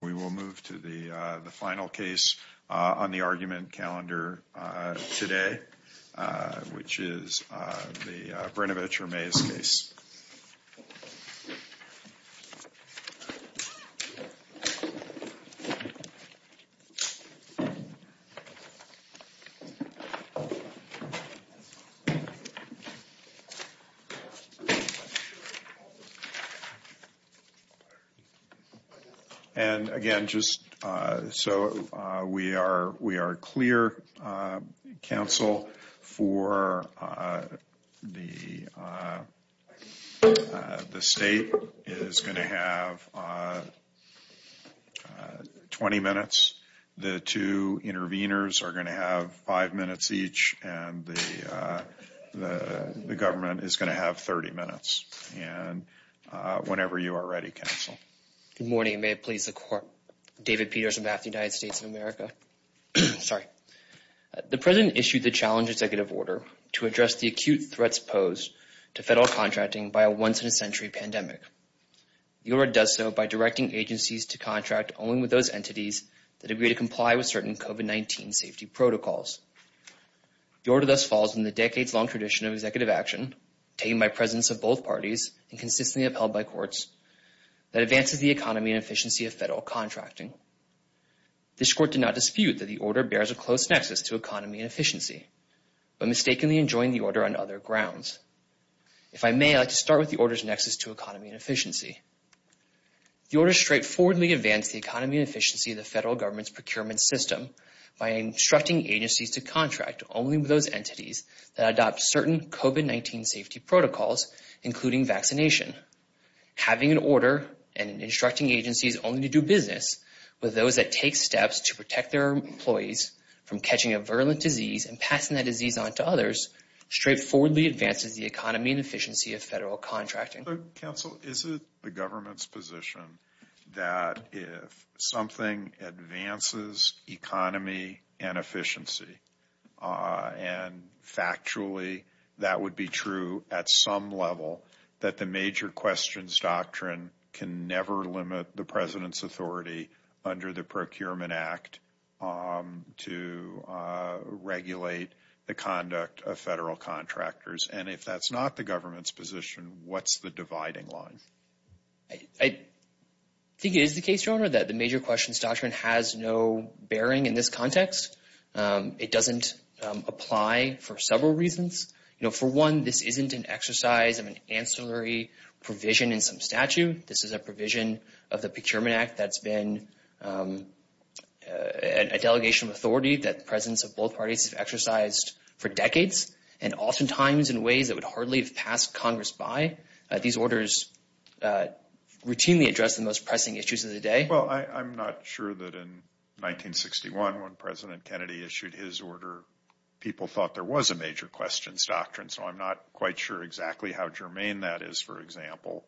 We will move to the final case on the argument calendar today, which is the Brnovich-Ramez case. And, again, just so we are we are clear, counsel, for the The state is going to have 20 minutes, the two interveners are going to have five minutes each, and the government is going to have 30 minutes. And whenever you are ready, counsel. Good morning. May it please the court. David Peters, on behalf of the United States of America. Sorry. The president issued the challenge executive order to address the acute threats posed to federal contracting by a once-in-a-century pandemic. The order does so by directing agencies to contract only with those entities that agree to comply with certain COVID-19 safety protocols. The order thus falls in the decades-long tradition of executive action, tamed by presidents of both parties and consistently upheld by courts, that advances the economy and efficiency of federal contracting. This court did not dispute that the order bears a close nexus to economy and efficiency, but mistakenly enjoined the order on other grounds. If I may, I'd like to start with the order's nexus to economy and efficiency. The order straightforwardly advanced the economy and efficiency of the federal government's procurement system by instructing agencies to contract only with those entities that adopt certain COVID-19 safety protocols, including vaccination. Having an order and instructing agencies only to do business with those that take steps to protect their employees from catching a virulent disease and passing that disease on to others straightforwardly advances the economy and efficiency of federal contracting. Counsel, is it the government's position that if something advances economy and efficiency, and factually that would be true at some level, that the major questions doctrine can never limit the president's authority under the Procurement Act to regulate the conduct of federal contractors? And if that's not the government's position, what's the dividing line? I think it is the case, Your Honor, that the major questions doctrine has no bearing in this context. It doesn't apply for several reasons. You know, for one, this isn't an exercise of an ancillary provision in some statute. This is a provision of the Procurement Act that's been a delegation of authority that presidents of both parties have exercised for decades. And oftentimes in ways that would hardly have passed Congress by, these orders routinely address the most pressing issues of the day. Well, I'm not sure that in 1961, when President Kennedy issued his order, people thought there was a major questions doctrine. So I'm not quite sure exactly how germane that is, for example.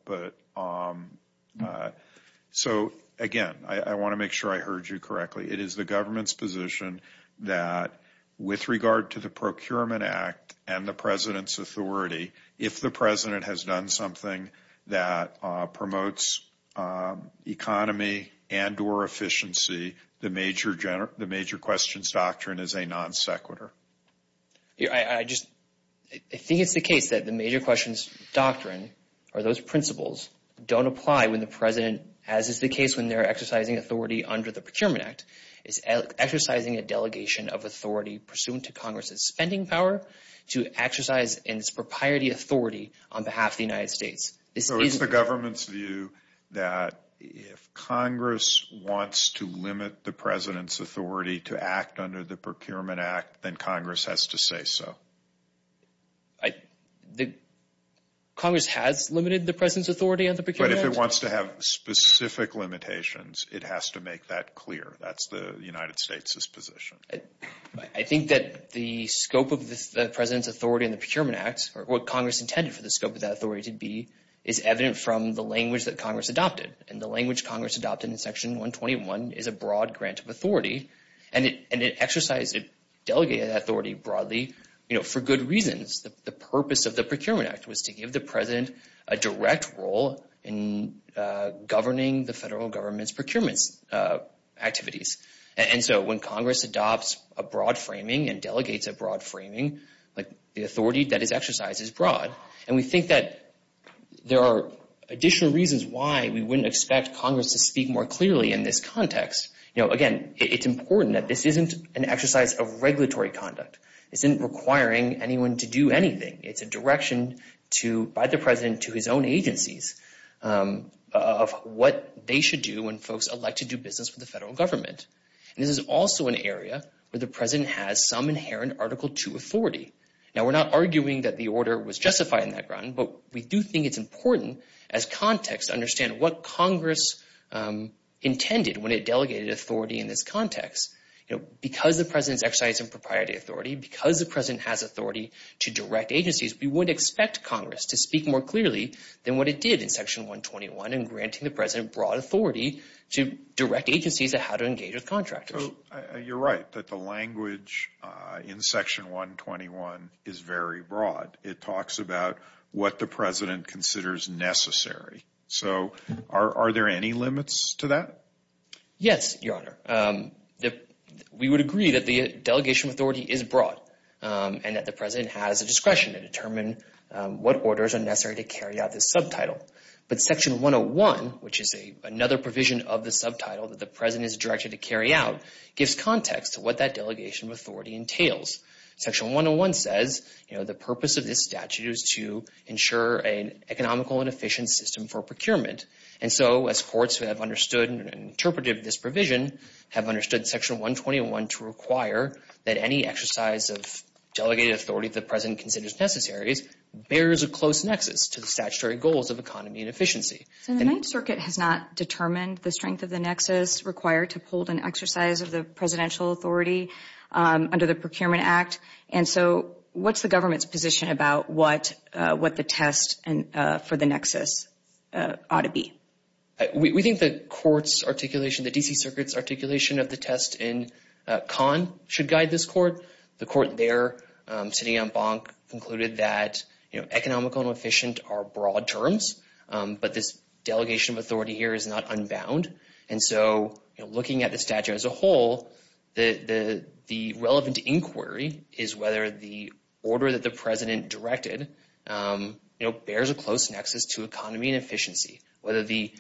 So again, I want to make sure I heard you correctly. It is the government's position that with regard to the Procurement Act and the president's authority, if the president has done something that promotes economy and or efficiency, the major questions doctrine is a non sequitur. I just think it's the case that the major questions doctrine or those principles don't apply when the president, as is the case when they're exercising authority under the Procurement Act, is exercising a delegation of authority pursuant to Congress's spending power to exercise its propriety authority on behalf of the United States. So it's the government's view that if Congress wants to limit the president's authority to act under the Procurement Act, then Congress has to say so. Congress has limited the president's authority on the Procurement Act. But if it wants to have specific limitations, it has to make that clear. That's the United States' position. I think that the scope of the president's authority in the Procurement Act, or what Congress intended for the scope of that authority to be, is evident from the language that Congress adopted. And the language Congress adopted in Section 121 is a broad grant of authority, and it exercised a delegated authority broadly for good reasons. The purpose of the Procurement Act was to give the president a direct role in governing the federal government's procurements activities. And so when Congress adopts a broad framing and delegates a broad framing, the authority that is exercised is broad. And we think that there are additional reasons why we wouldn't expect Congress to speak more clearly in this context. Again, it's important that this isn't an exercise of regulatory conduct. It isn't requiring anyone to do anything. It's a direction by the president to his own agencies of what they should do when folks elect to do business with the federal government. And this is also an area where the president has some inherent Article II authority. Now, we're not arguing that the order was justified in that ground, but we do think it's important as context to understand what Congress intended when it delegated authority in this context. You know, because the president's exercising proprietary authority, because the president has authority to direct agencies, we wouldn't expect Congress to speak more clearly than what it did in Section 121 in granting the president broad authority to direct agencies on how to engage with contractors. So you're right that the language in Section 121 is very broad. It talks about what the president considers necessary. So are there any limits to that? Yes, Your Honor. We would agree that the delegation authority is broad and that the president has a discretion to determine what orders are necessary to carry out this subtitle. But Section 101, which is another provision of the subtitle that the president is directed to carry out, gives context to what that delegation authority entails. Section 101 says, you know, the purpose of this statute is to ensure an economical and efficient system for procurement. And so as courts have understood and interpreted this provision, have understood Section 121 to require that any exercise of delegated authority the president considers necessary bears a close nexus to the statutory goals of economy and efficiency. So the Ninth Circuit has not determined the strength of the nexus required to hold an exercise of the presidential authority under the Procurement Act. And so what's the government's position about what the test for the nexus ought to be? We think the court's articulation, the D.C. Circuit's articulation of the test in Kahn should guide this court. The court there, sitting on Bonk, concluded that, you know, economical and efficient are broad terms, but this delegation of authority here is not unbound. And so, you know, looking at the statute as a whole, the relevant inquiry is whether the order that the president directed, you know, bears a close nexus to economy and efficiency. Whether the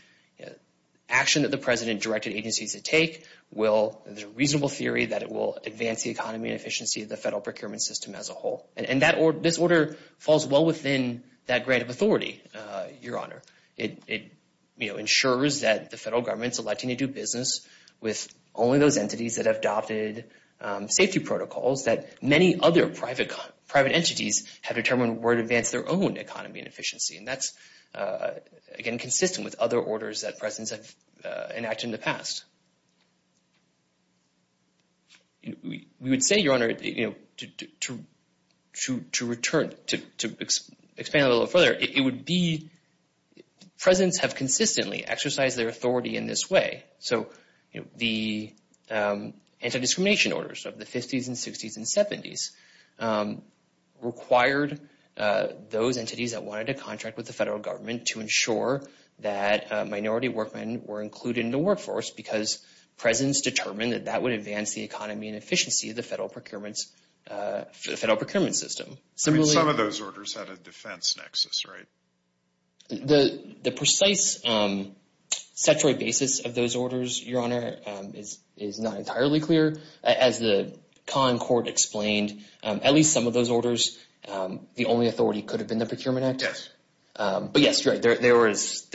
action that the president directed agencies to take will, there's a reasonable theory that it will advance the economy and efficiency of the federal procurement system as a whole. And this order falls well within that grant of authority, Your Honor. It, you know, ensures that the federal government's electing to do business with only those entities that have adopted safety protocols that many other private entities have determined were to advance their own economy and efficiency. And that's, again, consistent with other orders that presidents have enacted in the past. We would say, Your Honor, you know, to return, to expand a little further, it would be, presidents have consistently exercised their authority in this way. So, you know, the anti-discrimination orders of the 50s and 60s and 70s required those entities that wanted to contract with the federal government to ensure that minority workmen were included in the workforce, because presidents determined that that would advance the economy and efficiency of the federal procurement system. I mean, some of those orders had a defense nexus, right? The precise statutory basis of those orders, Your Honor, is not entirely clear. As the con court explained, at least some of those orders, the only authority could have been the Procurement Act. Yes. But, yes, you're right. There are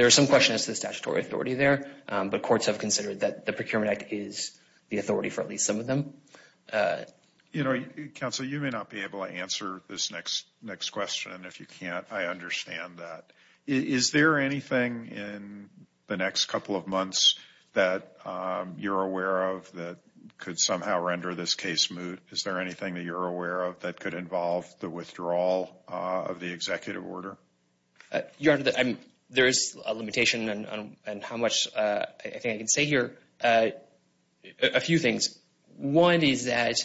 some questions to the statutory authority there, but courts have considered that the Procurement Act is the authority for at least some of them. You know, Counsel, you may not be able to answer this next question. If you can't, I understand that. Is there anything in the next couple of months that you're aware of that could somehow render this case moot? Is there anything that you're aware of that could involve the withdrawal of the executive order? Your Honor, there is a limitation on how much I think I can say here. A few things. One is that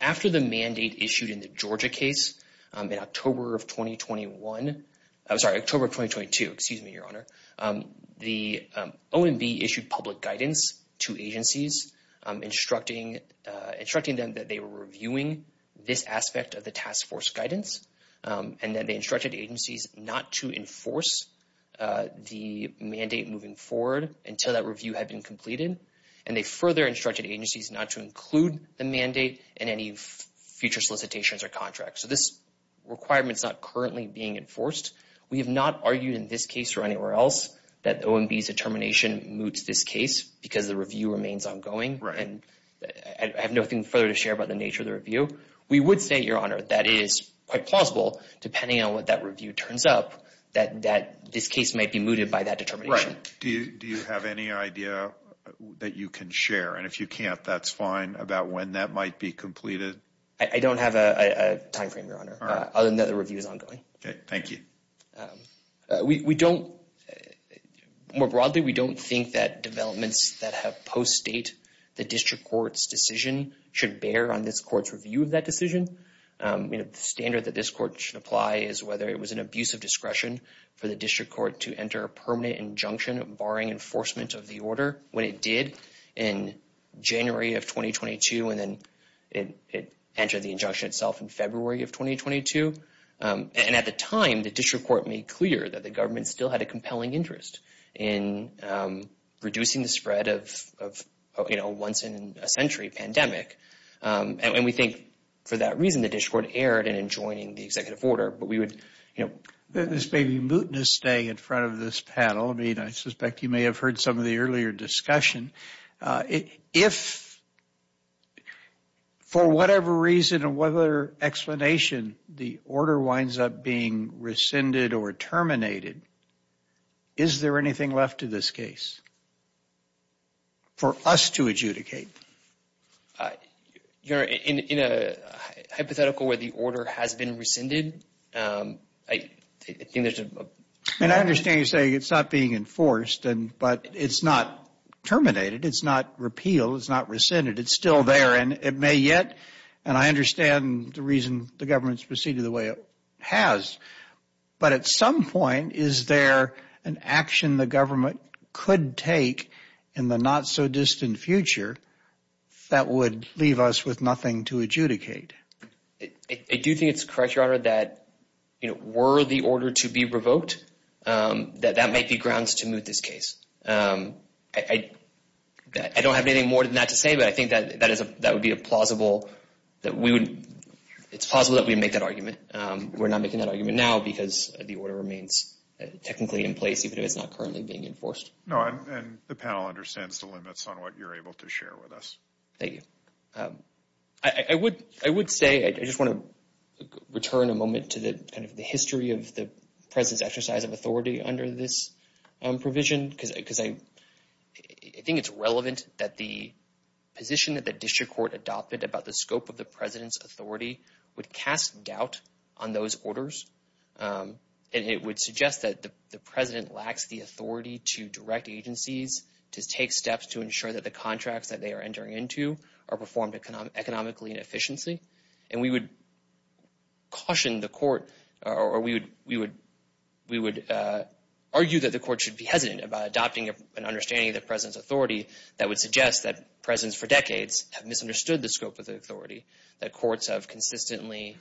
after the mandate issued in the Georgia case in October of 2021, I'm sorry, October of 2022, excuse me, Your Honor, the OMB issued public guidance to agencies instructing them that they were reviewing this aspect of the task force guidance and that they instructed agencies not to enforce the mandate moving forward until that review had been completed. And they further instructed agencies not to include the mandate in any future solicitations or contracts. So this requirement is not currently being enforced. We have not argued in this case or anywhere else that OMB's determination moots this case because the review remains ongoing. Right. I have nothing further to share about the nature of the review. We would say, Your Honor, that it is quite plausible, depending on what that review turns up, that this case might be mooted by that determination. Right. Do you have any idea that you can share? And if you can't, that's fine. About when that might be completed? I don't have a timeframe, Your Honor, other than that the review is ongoing. Okay. Thank you. We don't, more broadly, we don't think that developments that have post-date the district court's decision should bear on this court's review of that decision. The standard that this court should apply is whether it was an abuse of discretion for the district court to enter a permanent injunction barring enforcement of the order when it did in January of 2022 and then it entered the injunction itself in February of 2022. And at the time, the district court made clear that the government still had a compelling interest in reducing the spread of, you know, once in a century pandemic. And we think for that reason, the district court erred in enjoining the executive order. But we would, you know. This may be mootness staying in front of this panel. I mean, I suspect you may have heard some of the earlier discussion. If, for whatever reason or whatever explanation, the order winds up being rescinded or terminated, is there anything left to this case for us to adjudicate? Your Honor, in a hypothetical where the order has been rescinded, I think there's a... And I understand you're saying it's not being enforced, but it's not terminated. It's not repealed. It's not rescinded. It's still there, and it may yet. And I understand the reason the government's proceeded the way it has. But at some point, is there an action the government could take in the not-so-distant future that would leave us with nothing to adjudicate? I do think it's correct, Your Honor, that were the order to be revoked, that that might be grounds to moot this case. I don't have anything more than that to say, but I think that would be a plausible... It's plausible that we would make that argument. We're not making that argument now because the order remains technically in place, even if it's not currently being enforced. No, and the panel understands the limits on what you're able to share with us. Thank you. I would say, I just want to return a moment to the history of the President's exercise of authority under this provision, because I think it's relevant that the position that the district court adopted about the scope of the President's authority would cast doubt on those orders. And it would suggest that the President lacks the authority to direct agencies to take steps to ensure that the contracts that they are entering into are performed economically and efficiently. And we would caution the court, or we would argue that the court should be hesitant about adopting an understanding of the President's authority that would suggest that Presidents for decades have misunderstood the scope of the authority, that courts have consistently...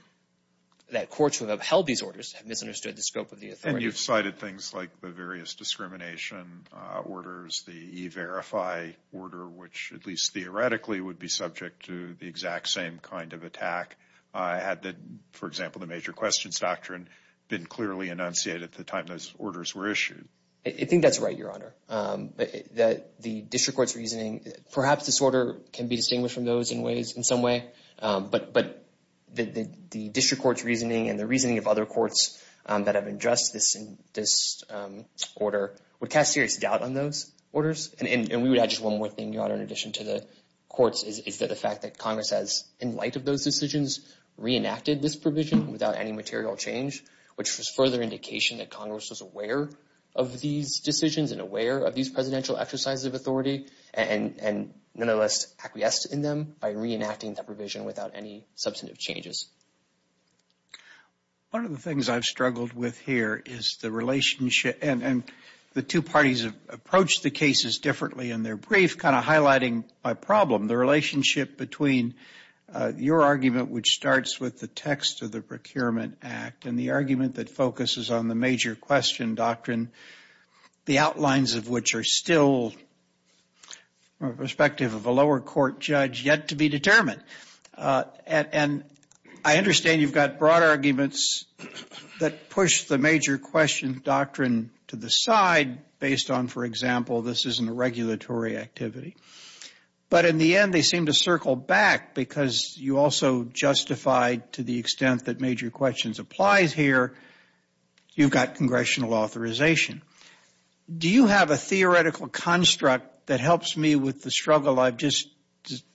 that courts who have upheld these orders have misunderstood the scope of the authority. And you've cited things like the various discrimination orders, the E-Verify order, which at least theoretically would be subject to the exact same kind of attack, had, for example, the Major Questions Doctrine been clearly enunciated at the time those orders were issued. I think that's right, Your Honor. The district court's reasoning, perhaps this order can be distinguished from those in some way, but the district court's reasoning and the reasoning of other courts that have addressed this order would cast serious doubt on those orders. And we would add just one more thing, Your Honor, in addition to the courts, is that the fact that Congress has, in light of those decisions, reenacted this provision without any material change, which was further indication that Congress was aware of these decisions and aware of these presidential exercises of authority, and nonetheless acquiesced in them by reenacting that provision without any substantive changes. One of the things I've struggled with here is the relationship, and the two parties have approached the cases differently in their brief, kind of highlighting my problem, the relationship between your argument, which starts with the text of the Procurement Act, and the argument that focuses on the Major Question Doctrine, the outlines of which are still, from the perspective of a lower court judge, yet to be determined. And I understand you've got broad arguments that push the Major Question Doctrine to the side, based on, for example, this isn't a regulatory activity. But in the end, they seem to circle back, because you also justified, to the extent that Major Questions applies here, you've got congressional authorization. Do you have a theoretical construct that helps me with the struggle I've just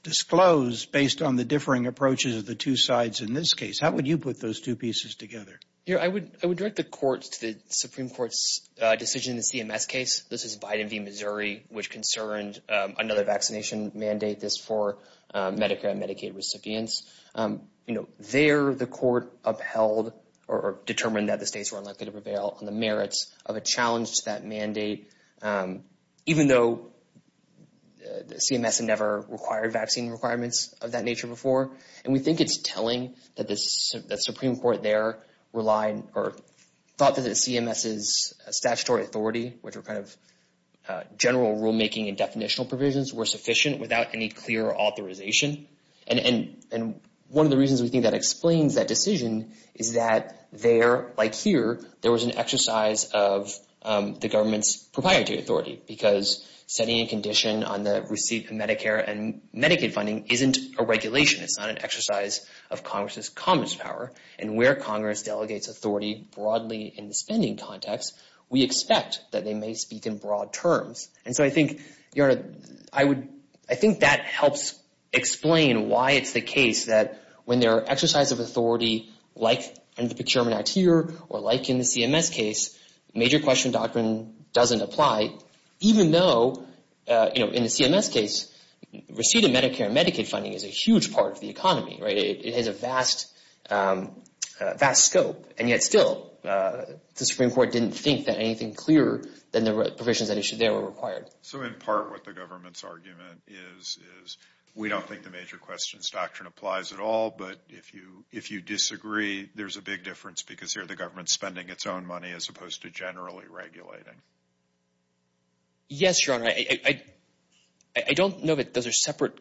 disclosed, based on the differing approaches of the two sides in this case? How would you put those two pieces together? I would direct the courts to the Supreme Court's decision in the CMS case. This is Biden v. Missouri, which concerned another vaccination mandate, this for Medicare and Medicaid recipients. There, the court upheld or determined that the states were unlikely to prevail on the merits of a challenge to that mandate, even though CMS had never required vaccine requirements of that nature before. And we think it's telling that the Supreme Court there relied or thought that the CMS's statutory authority, which were kind of general rulemaking and definitional provisions, were sufficient without any clear authorization. And one of the reasons we think that explains that decision is that there, like here, there was an exercise of the government's proprietary authority, because setting a condition on the receipt of Medicare and Medicaid funding isn't a regulation. It's not an exercise of Congress's commonest power. And where Congress delegates authority broadly in the spending context, we expect that they may speak in broad terms. And so I think, Your Honor, I think that helps explain why it's the case that when there are exercises of authority, like in the Procurement Act here or like in the CMS case, major question doctrine doesn't apply, even though, you know, in the CMS case, receipt of Medicare and Medicaid funding is a huge part of the economy. Right? It has a vast, vast scope. And yet still, the Supreme Court didn't think that anything clearer than the provisions that were required. So in part what the government's argument is, is we don't think the major questions doctrine applies at all. But if you disagree, there's a big difference, because here the government's spending its own money as opposed to generally regulating. Yes, Your Honor. I don't know that those are separate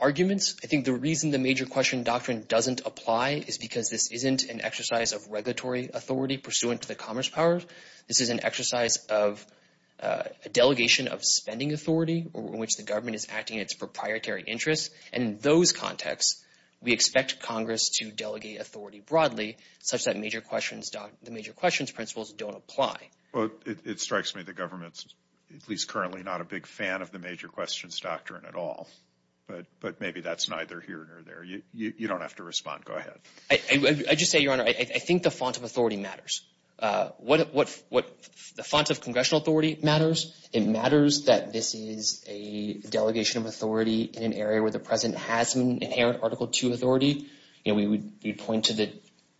arguments. I think the reason the major question doctrine doesn't apply is because this isn't an exercise of regulatory authority pursuant to the commerce powers. This is an exercise of a delegation of spending authority in which the government is acting in its proprietary interests. And in those contexts, we expect Congress to delegate authority broadly, such that the major questions principles don't apply. Well, it strikes me the government's at least currently not a big fan of the major questions doctrine at all. But maybe that's neither here nor there. You don't have to respond. Go ahead. I just say, Your Honor, I think the font of authority matters. What the font of congressional authority matters, it matters that this is a delegation of authority in an area where the President has some inherent Article II authority. And we would point to the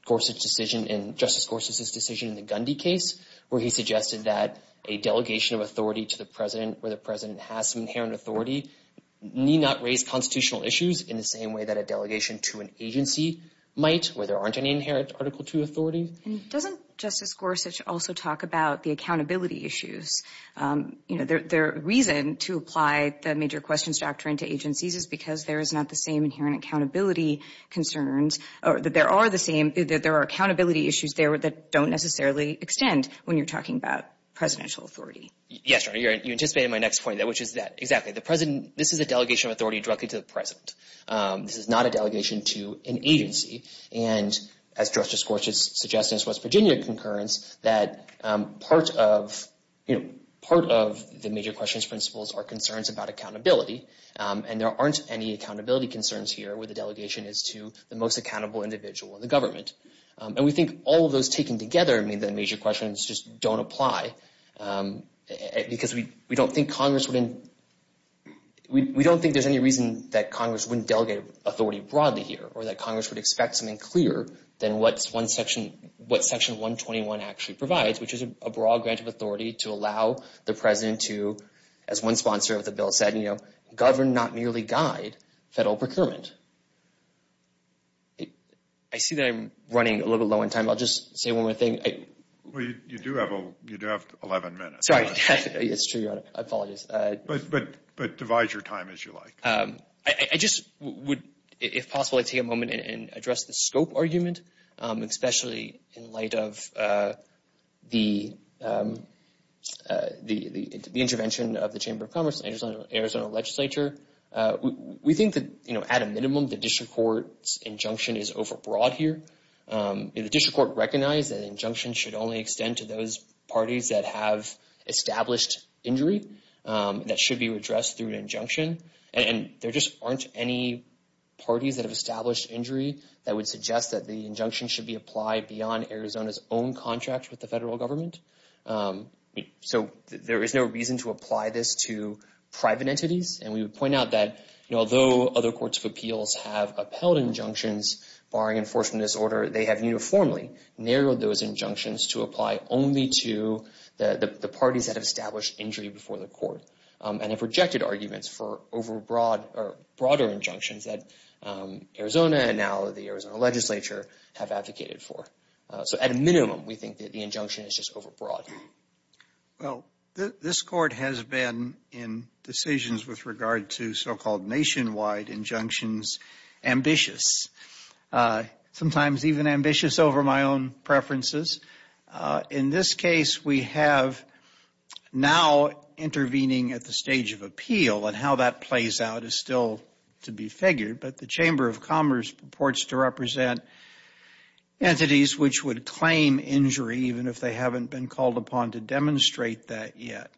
Gorsuch decision and Justice Gorsuch's decision in the Gundy case, where he suggested that a delegation of authority to the President where the President has some inherent authority need not raise constitutional issues in the same way that a delegation to an agency might where there aren't any inherent Article II authority. And doesn't Justice Gorsuch also talk about the accountability issues? You know, the reason to apply the major questions doctrine to agencies is because there is not the same inherent accountability concerns, or that there are accountability issues there that don't necessarily extend when you're talking about presidential authority. Yes, Your Honor, you anticipated my next point, which is that exactly. The President, this is a delegation of authority directly to the President. This is not a delegation to an agency. And as Justice Gorsuch suggests in his West Virginia concurrence, that part of, you know, part of the major questions principles are concerns about accountability. And there aren't any accountability concerns here where the delegation is to the most accountable individual, the government. And we think all of those taken together mean that major questions just don't apply because we don't think Congress wouldn't, we don't think there's any reason that Congress wouldn't delegate authority broadly here or that Congress would expect something clearer than what one section, what Section 121 actually provides, which is a broad grant of authority to allow the President to, as one sponsor of the bill said, you know, govern, not merely guide, federal procurement. I see that I'm running a little low on time. I'll just say one more thing. Well, you do have 11 minutes. It's true, Your Honor. I apologize. But devise your time as you like. I just would, if possible, take a moment and address the scope argument, especially in light of the intervention of the Chamber of Commerce and Arizona Legislature. We think that, you know, at a minimum, the district court's injunction is overbroad here. The district court recognized that an injunction should only extend to those parties that have established injury that should be addressed through an injunction. And there just aren't any parties that have established injury that would suggest that the injunction should be applied beyond Arizona's own contract with the federal government. So there is no reason to apply this to private entities. And we would point out that, you know, although other courts of appeals have upheld injunctions, barring enforcement disorder, they have uniformly narrowed those injunctions to apply only to the parties that have established injury before the court and have rejected arguments for overbroad or broader injunctions that Arizona and now the Arizona Legislature have advocated for. So at a minimum, we think that the injunction is just overbroad. Well, this court has been in decisions with regard to so-called nationwide injunctions ambitious, sometimes even ambitious over my own preferences. In this case, we have now intervening at the stage of appeal, and how that plays out is still to be figured. But the Chamber of Commerce purports to represent entities which would claim injury even if they haven't been called upon to demonstrate that yet.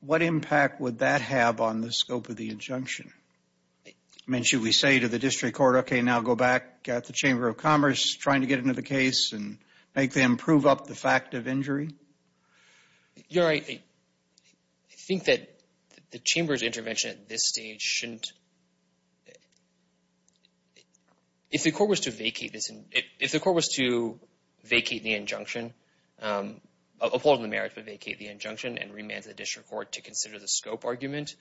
What impact would that have on the scope of the injunction? I mean, should we say to the district court, okay, now go back at the Chamber of Commerce trying to get into the case and make them prove up the fact of injury? You're right. I think that the Chamber's intervention at this stage shouldn't – if the court was to vacate this – if the court was to vacate the injunction – uphold the merits but vacate the injunction and remand the district court to consider the scope argument,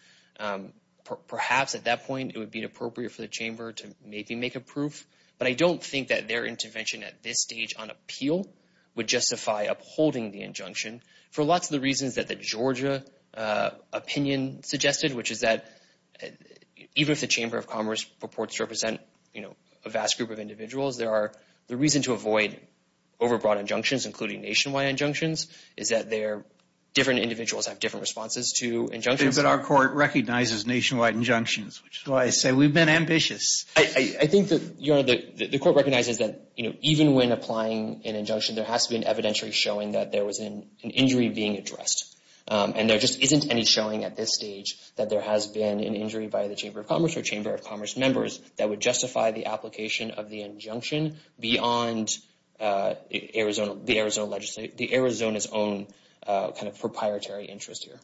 perhaps at that point it would be appropriate for the Chamber to maybe make a proof. But I don't think that their intervention at this stage on appeal would justify upholding the injunction for lots of the reasons that the Georgia opinion suggested, which is that even if the Chamber of Commerce purports to represent a vast group of individuals, the reason to avoid overbroad injunctions, including nationwide injunctions, is that different individuals have different responses to injunctions. But our court recognizes nationwide injunctions, which is why I say we've been ambitious. I think that the court recognizes that even when applying an injunction, there has to be an evidentiary showing that there was an injury being addressed. And there just isn't any showing at this stage that there has been an injury by the Chamber of Commerce or Chamber of Commerce members that would justify the application of the injunction beyond the Arizona's own kind of proprietary interest here.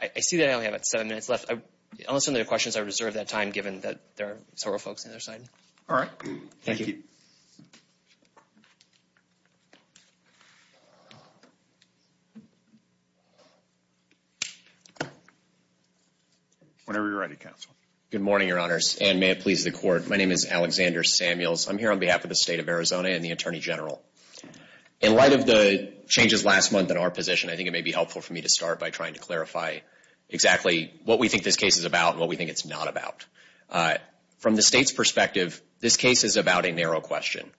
I see that I only have about seven minutes left. I'll listen to the questions. I reserve that time, given that there are several folks on the other side. All right. Thank you. Whenever you're ready, counsel. Good morning, Your Honors, and may it please the Court. My name is Alexander Samuels. I'm here on behalf of the State of Arizona and the Attorney General. In light of the changes last month in our position, I think it may be helpful for me to start by trying to clarify exactly what we think this case is about and what we think it's not about. From the State's perspective, this case is about a narrow question.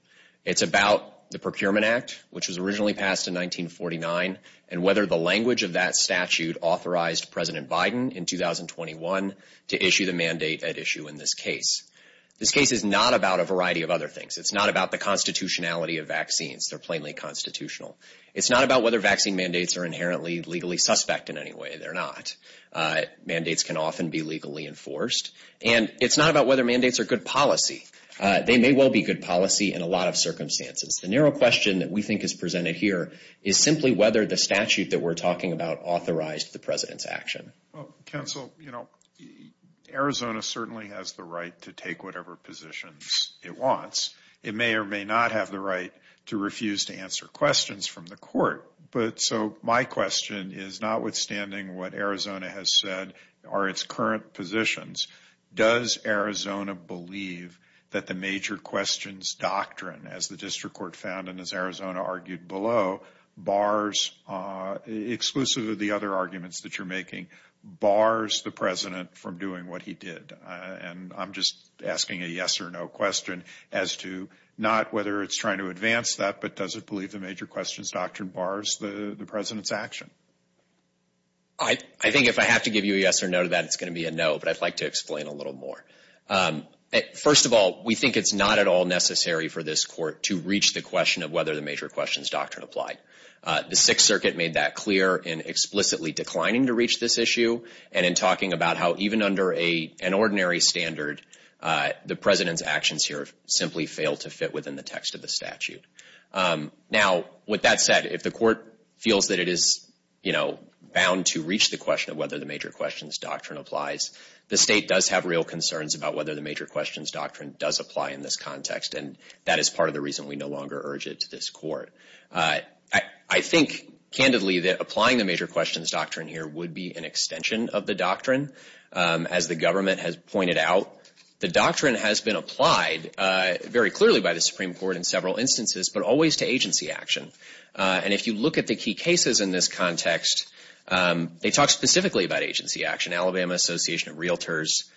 It's about the Procurement Act, which was originally passed in 1949, and whether the language of that statute authorized President Biden in 2021 to issue the mandate at issue in this case. This case is not about a variety of other things. It's not about the constitutionality of vaccines. They're plainly constitutional. It's not about whether vaccine mandates are inherently legally suspect in any way. They're not. Mandates can often be legally enforced. And it's not about whether mandates are good policy. They may well be good policy in a lot of circumstances. The narrow question that we think is presented here is simply whether the statute that we're talking about authorized the President's action. Well, counsel, you know, Arizona certainly has the right to take whatever positions it wants. It may or may not have the right to refuse to answer questions from the court. But so my question is, notwithstanding what Arizona has said are its current positions, does Arizona believe that the major questions doctrine, as the district court found and as Arizona argued below, bars, exclusive of the other arguments that you're making, bars the President from doing what he did? And I'm just asking a yes or no question as to not whether it's trying to advance that, but does it believe the major questions doctrine bars the President's action? I think if I have to give you a yes or no to that, it's going to be a no. But I'd like to explain a little more. First of all, we think it's not at all necessary for this court to reach the question of whether the major questions doctrine applied. The Sixth Circuit made that clear in explicitly declining to reach this issue and in talking about how even under an ordinary standard, the President's actions here simply fail to fit within the text of the statute. Now, with that said, if the court feels that it is, you know, bound to reach the question of whether the major questions doctrine applies, the state does have real concerns about whether the major questions doctrine does apply in this context, and that is part of the reason we no longer urge it to this court. I think candidly that applying the major questions doctrine here would be an extension of the doctrine. As the government has pointed out, the doctrine has been applied very clearly by the Supreme Court in several instances, but always to agency action. And if you look at the key cases in this context, they talk specifically about agency action. Alabama Association of Realtors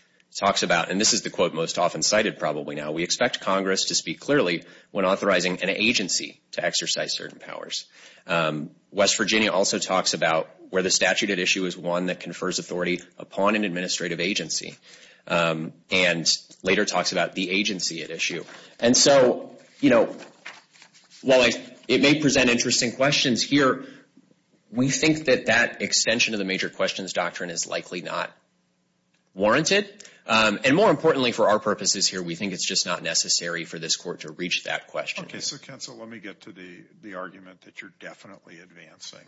talks about, and this is the quote most often cited probably now, we expect Congress to speak clearly when authorizing an agency to exercise certain powers. West Virginia also talks about where the statute at issue is one that confers authority upon an administrative agency, and later talks about the agency at issue. And so, you know, while it may present interesting questions here, we think that that extension of the major questions doctrine is likely not warranted. And more importantly for our purposes here, we think it's just not necessary for this court to reach that question. Okay, so counsel, let me get to the argument that you're definitely advancing.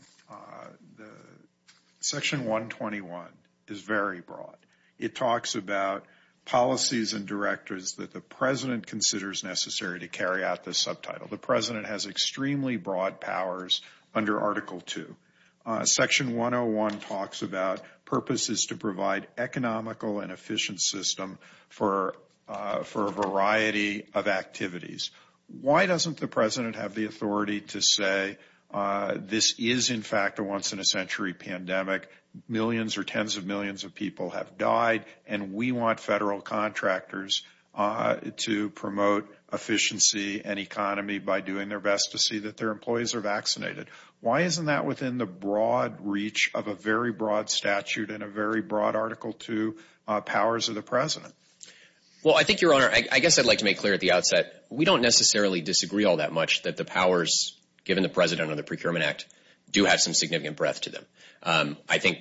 Section 121 is very broad. It talks about policies and directors that the president considers necessary to carry out this subtitle. The president has extremely broad powers under Article 2. Section 101 talks about purposes to provide economical and efficient system for a variety of activities. Why doesn't the president have the authority to say this is in fact a once-in-a-century pandemic, millions or tens of millions of people have died, and we want federal contractors to promote efficiency and economy by doing their best to see that their employees are vaccinated? Why isn't that within the broad reach of a very broad statute and a very broad Article 2 powers of the president? Well, I think, Your Honor, I guess I'd like to make clear at the outset, we don't necessarily disagree all that much that the powers given the president or the Procurement Act do have some significant breadth to them. I think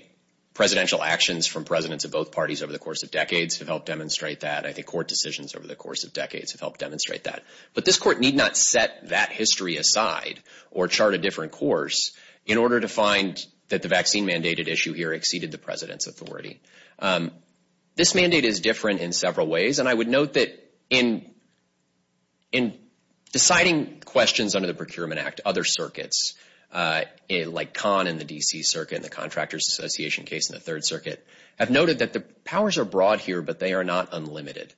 presidential actions from presidents of both parties over the course of decades have helped demonstrate that. I think court decisions over the course of decades have helped demonstrate that. But this court need not set that history aside or chart a different course in order to find that the vaccine-mandated issue here exceeded the president's authority. This mandate is different in several ways, and I would note that in deciding questions under the Procurement Act, other circuits, like Kahn in the D.C. Circuit and the Contractors Association case in the Third Circuit, have noted that the powers are broad here, but they are not unlimited.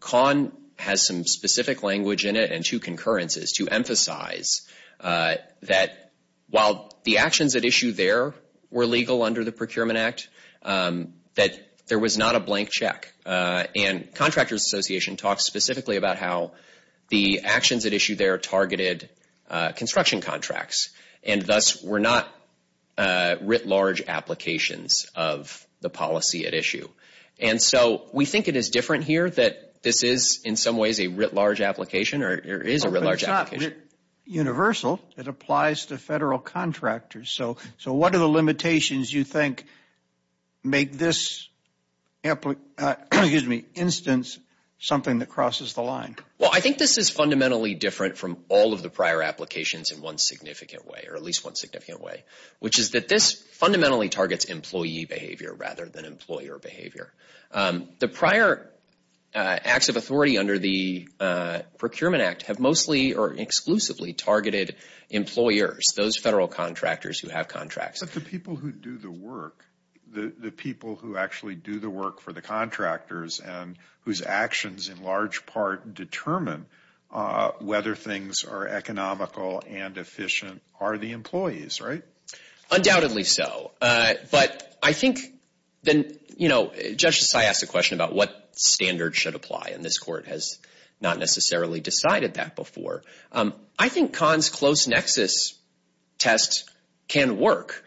Kahn has some specific language in it and two concurrences to emphasize that while the actions at issue there were legal under the Procurement Act, that there was not a blank check. And Contractors Association talks specifically about how the actions at issue there targeted construction contracts, and thus were not writ large applications of the policy at issue. And so we think it is different here that this is in some ways a writ large application, or there is a writ large application. But it's not universal. It applies to federal contractors. So what are the limitations you think make this instance something that crosses the line? Well, I think this is fundamentally different from all of the prior applications in one significant way, or at least one significant way, which is that this fundamentally targets employee behavior rather than employer behavior. The prior acts of authority under the Procurement Act have mostly or exclusively targeted employers, those federal contractors who have contracts. But the people who do the work, the people who actually do the work for the contractors and whose actions in large part determine whether things are economical and efficient, are the employees, right? Undoubtedly so. But I think then, you know, Judge Desai asked a question about what standard should apply, and this Court has not necessarily decided that before. I think Kahn's close nexus test can work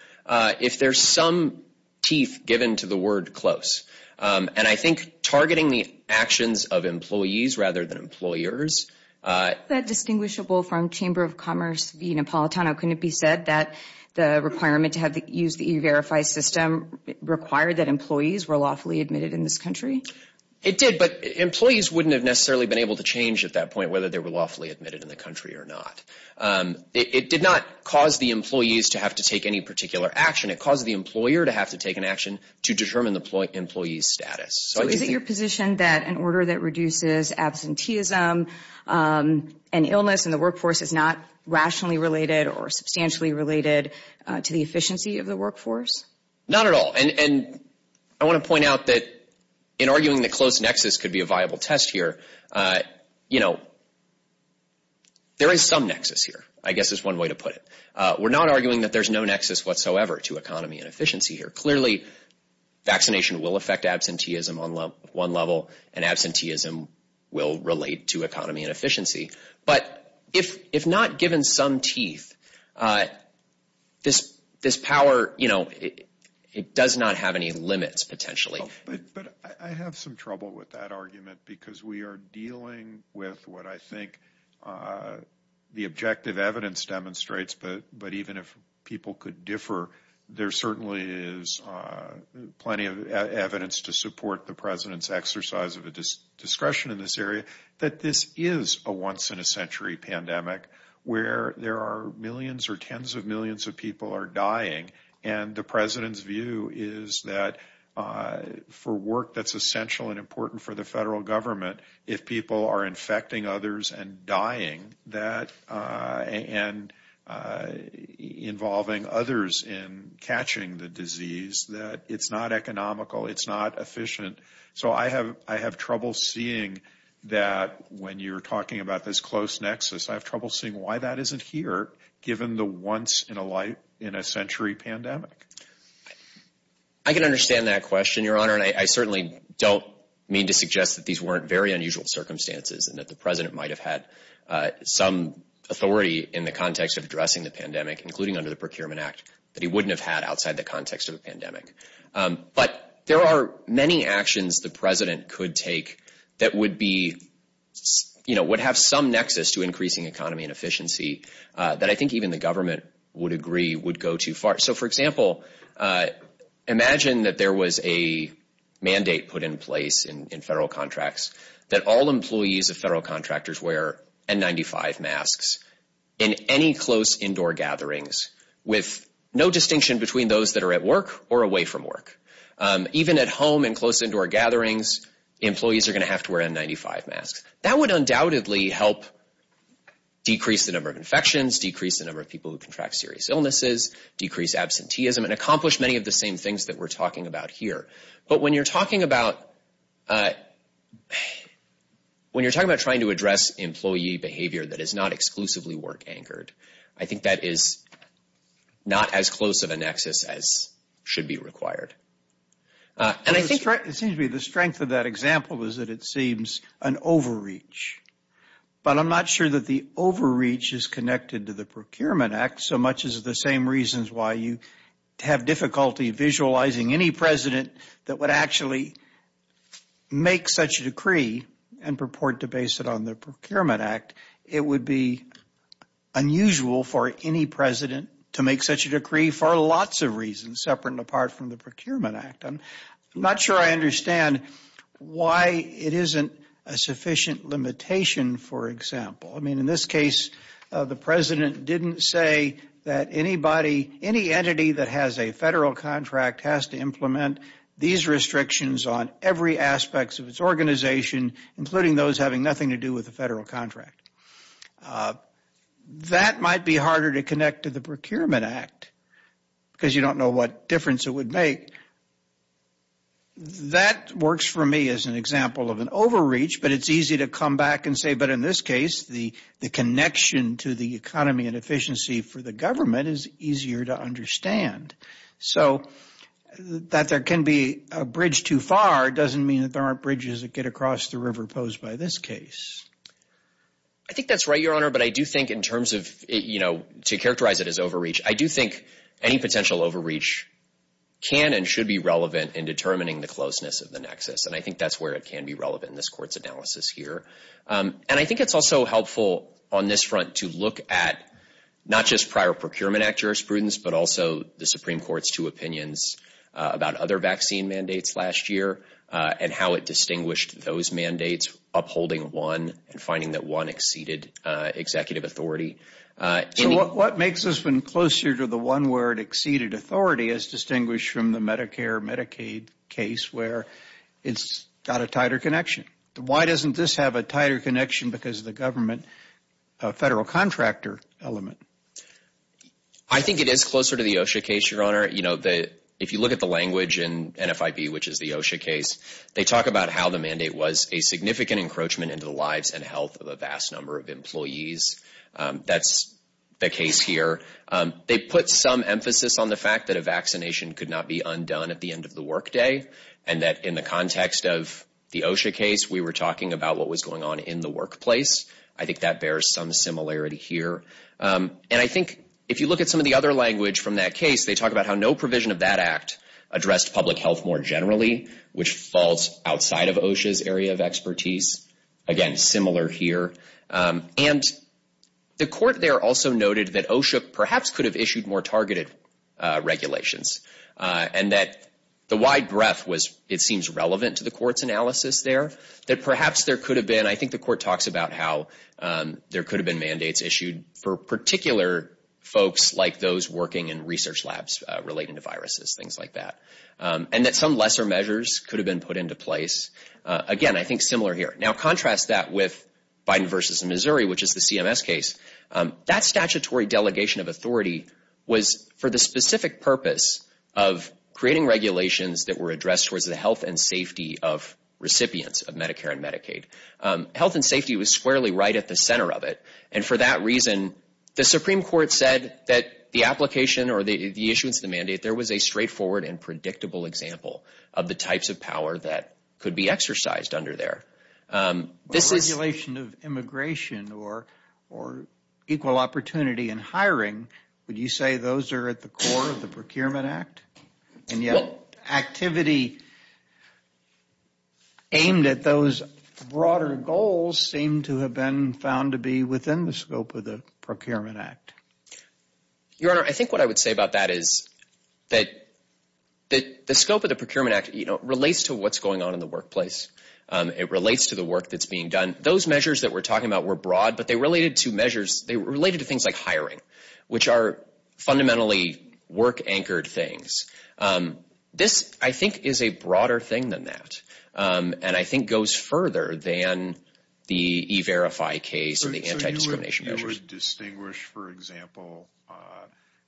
if there's some teeth given to the word close. And I think targeting the actions of employees rather than employers. Is that distinguishable from Chamber of Commerce v. Napolitano? Couldn't it be said that the requirement to use the E-Verify system required that employees were lawfully admitted in this country? It did, but employees wouldn't have necessarily been able to change at that point whether they were lawfully admitted in the country or not. It did not cause the employees to have to take any particular action. It caused the employer to have to take an action to determine the employee's status. So is it your position that an order that reduces absenteeism and illness in the workforce is not rationally related or substantially related to the efficiency of the workforce? Not at all. And I want to point out that in arguing that close nexus could be a viable test here, you know, there is some nexus here, I guess is one way to put it. We're not arguing that there's no nexus whatsoever to economy and efficiency here. Clearly, vaccination will affect absenteeism on one level, and absenteeism will relate to economy and efficiency. But if not given some teeth, this power, you know, it does not have any limits potentially. But I have some trouble with that argument because we are dealing with what I think the objective evidence demonstrates, but even if people could differ, there certainly is plenty of evidence to support the President's exercise of discretion in this area that this is a once-in-a-century pandemic where there are millions or tens of millions of people are dying. And the President's view is that for work that's essential and important for the federal government, if people are infecting others and dying and involving others in catching the disease, that it's not economical, it's not efficient. So I have trouble seeing that when you're talking about this close nexus, I have trouble seeing why that isn't here given the once-in-a-century pandemic. I can understand that question, Your Honor, and I certainly don't mean to suggest that these weren't very unusual circumstances and that the President might have had some authority in the context of addressing the pandemic, including under the Procurement Act, that he wouldn't have had outside the context of a pandemic. But there are many actions the President could take that would be, you know, would have some nexus to increasing economy and efficiency that I think even the government would agree would go too far. So, for example, imagine that there was a mandate put in place in federal contracts that all employees of federal contractors wear N95 masks in any close indoor gatherings with no distinction between those that are at work or away from work. Even at home in close indoor gatherings, employees are going to have to wear N95 masks. That would undoubtedly help decrease the number of infections, decrease the number of people who contract serious illnesses, decrease absenteeism, and accomplish many of the same things that we're talking about here. But when you're talking about trying to address employee behavior that is not exclusively work-anchored, I think that is not as close of a nexus as should be required. It seems to me the strength of that example is that it seems an overreach. But I'm not sure that the overreach is connected to the Procurement Act so much as the same reasons why you have difficulty visualizing any president that would actually make such a decree and purport to base it on the Procurement Act. In fact, it would be unusual for any president to make such a decree for lots of reasons separate and apart from the Procurement Act. I'm not sure I understand why it isn't a sufficient limitation, for example. I mean, in this case, the president didn't say that anybody, any entity that has a federal contract has to implement these restrictions on every aspect of its organization, including those having nothing to do with the federal contract. That might be harder to connect to the Procurement Act because you don't know what difference it would make. That works for me as an example of an overreach, but it's easy to come back and say, but in this case, the connection to the economy and efficiency for the government is easier to understand. So that there can be a bridge too far doesn't mean that there aren't bridges that get across the river posed by this case. I think that's right, Your Honor, but I do think in terms of, you know, to characterize it as overreach, I do think any potential overreach can and should be relevant in determining the closeness of the nexus, and I think that's where it can be relevant in this Court's analysis here. And I think it's also helpful on this front to look at not just prior Procurement Act jurisprudence, but also the Supreme Court's two opinions about other vaccine mandates last year and how it distinguished those mandates, upholding one and finding that one exceeded executive authority. So what makes this one closer to the one where it exceeded authority is distinguished from the Medicare-Medicaid case where it's got a tighter connection. Why doesn't this have a tighter connection because of the government federal contractor element? I think it is closer to the OSHA case, Your Honor. You know, if you look at the language in NFIB, which is the OSHA case, they talk about how the mandate was a significant encroachment into the lives and health of a vast number of employees. That's the case here. They put some emphasis on the fact that a vaccination could not be undone at the end of the workday and that in the context of the OSHA case, we were talking about what was going on in the workplace. I think that bears some similarity here. And I think if you look at some of the other language from that case, they talk about how no provision of that act addressed public health more generally, which falls outside of OSHA's area of expertise. Again, similar here. And the court there also noted that OSHA perhaps could have issued more targeted regulations and that the wide breadth was, it seems, relevant to the court's analysis there, that perhaps there could have been, I think the court talks about how there could have been mandates issued for particular folks like those working in research labs relating to viruses, things like that, and that some lesser measures could have been put into place. Again, I think similar here. Now, contrast that with Biden v. Missouri, which is the CMS case. That statutory delegation of authority was for the specific purpose of creating regulations that were addressed towards the health and safety of recipients of Medicare and Medicaid. Health and safety was squarely right at the center of it, and for that reason, the Supreme Court said that the application or the issuance of the mandate, there was a straightforward and predictable example of the types of power that could be exercised under there. The regulation of immigration or equal opportunity in hiring, would you say those are at the core of the Procurement Act? And yet activity aimed at those broader goals seem to have been found to be within the scope of the Procurement Act. Your Honor, I think what I would say about that is that the scope of the Procurement Act, you know, relates to what's going on in the workplace. It relates to the work that's being done. Those measures that we're talking about were broad, but they related to measures, they related to things like hiring, which are fundamentally work-anchored things. This, I think, is a broader thing than that, and I think goes further than the E-Verify case and the anti-discrimination measures. So you would distinguish, for example,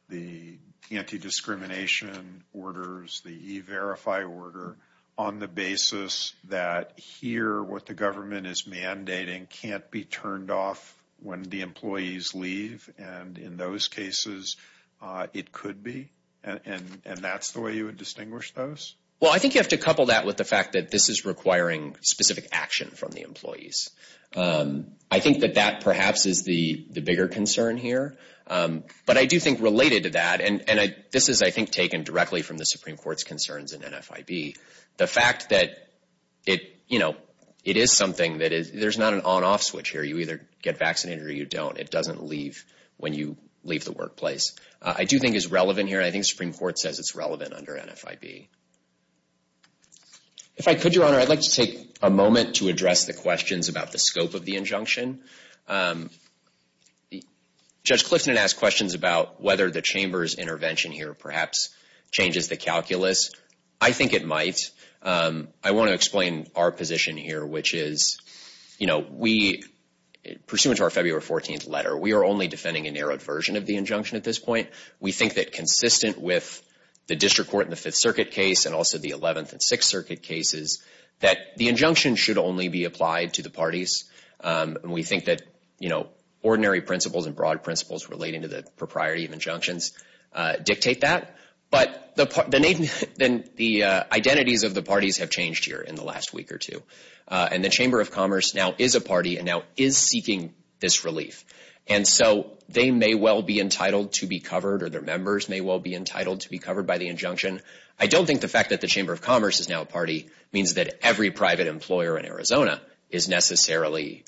the anti-discrimination orders, the E-Verify order, on the basis that here what the government is mandating can't be turned off when the employees leave, and in those cases it could be, and that's the way you would distinguish those? Well, I think you have to couple that with the fact that this is requiring specific action from the employees. I think that that perhaps is the bigger concern here, but I do think related to that, and this is, I think, taken directly from the Supreme Court's concerns in NFIB, the fact that it is something that there's not an on-off switch here. You either get vaccinated or you don't. It doesn't leave when you leave the workplace. I do think it's relevant here, and I think the Supreme Court says it's relevant under NFIB. If I could, Your Honor, I'd like to take a moment to address the questions about the scope of the injunction. Judge Clifton had asked questions about whether the Chamber's intervention here perhaps changes the calculus. I think it might. I want to explain our position here, which is, you know, we, pursuant to our February 14th letter, we are only defending a narrowed version of the injunction at this point. We think that consistent with the district court in the Fifth Circuit case and also the Eleventh and Sixth Circuit cases, that the injunction should only be applied to the parties, and we think that, you know, ordinary principles and broad principles relating to the propriety of injunctions dictate that. But the identities of the parties have changed here in the last week or two, and the Chamber of Commerce now is a party and now is seeking this relief, and so they may well be entitled to be covered or their members may well be entitled to be covered by the injunction. I don't think the fact that the Chamber of Commerce is now a party means that every private employer in Arizona is necessarily,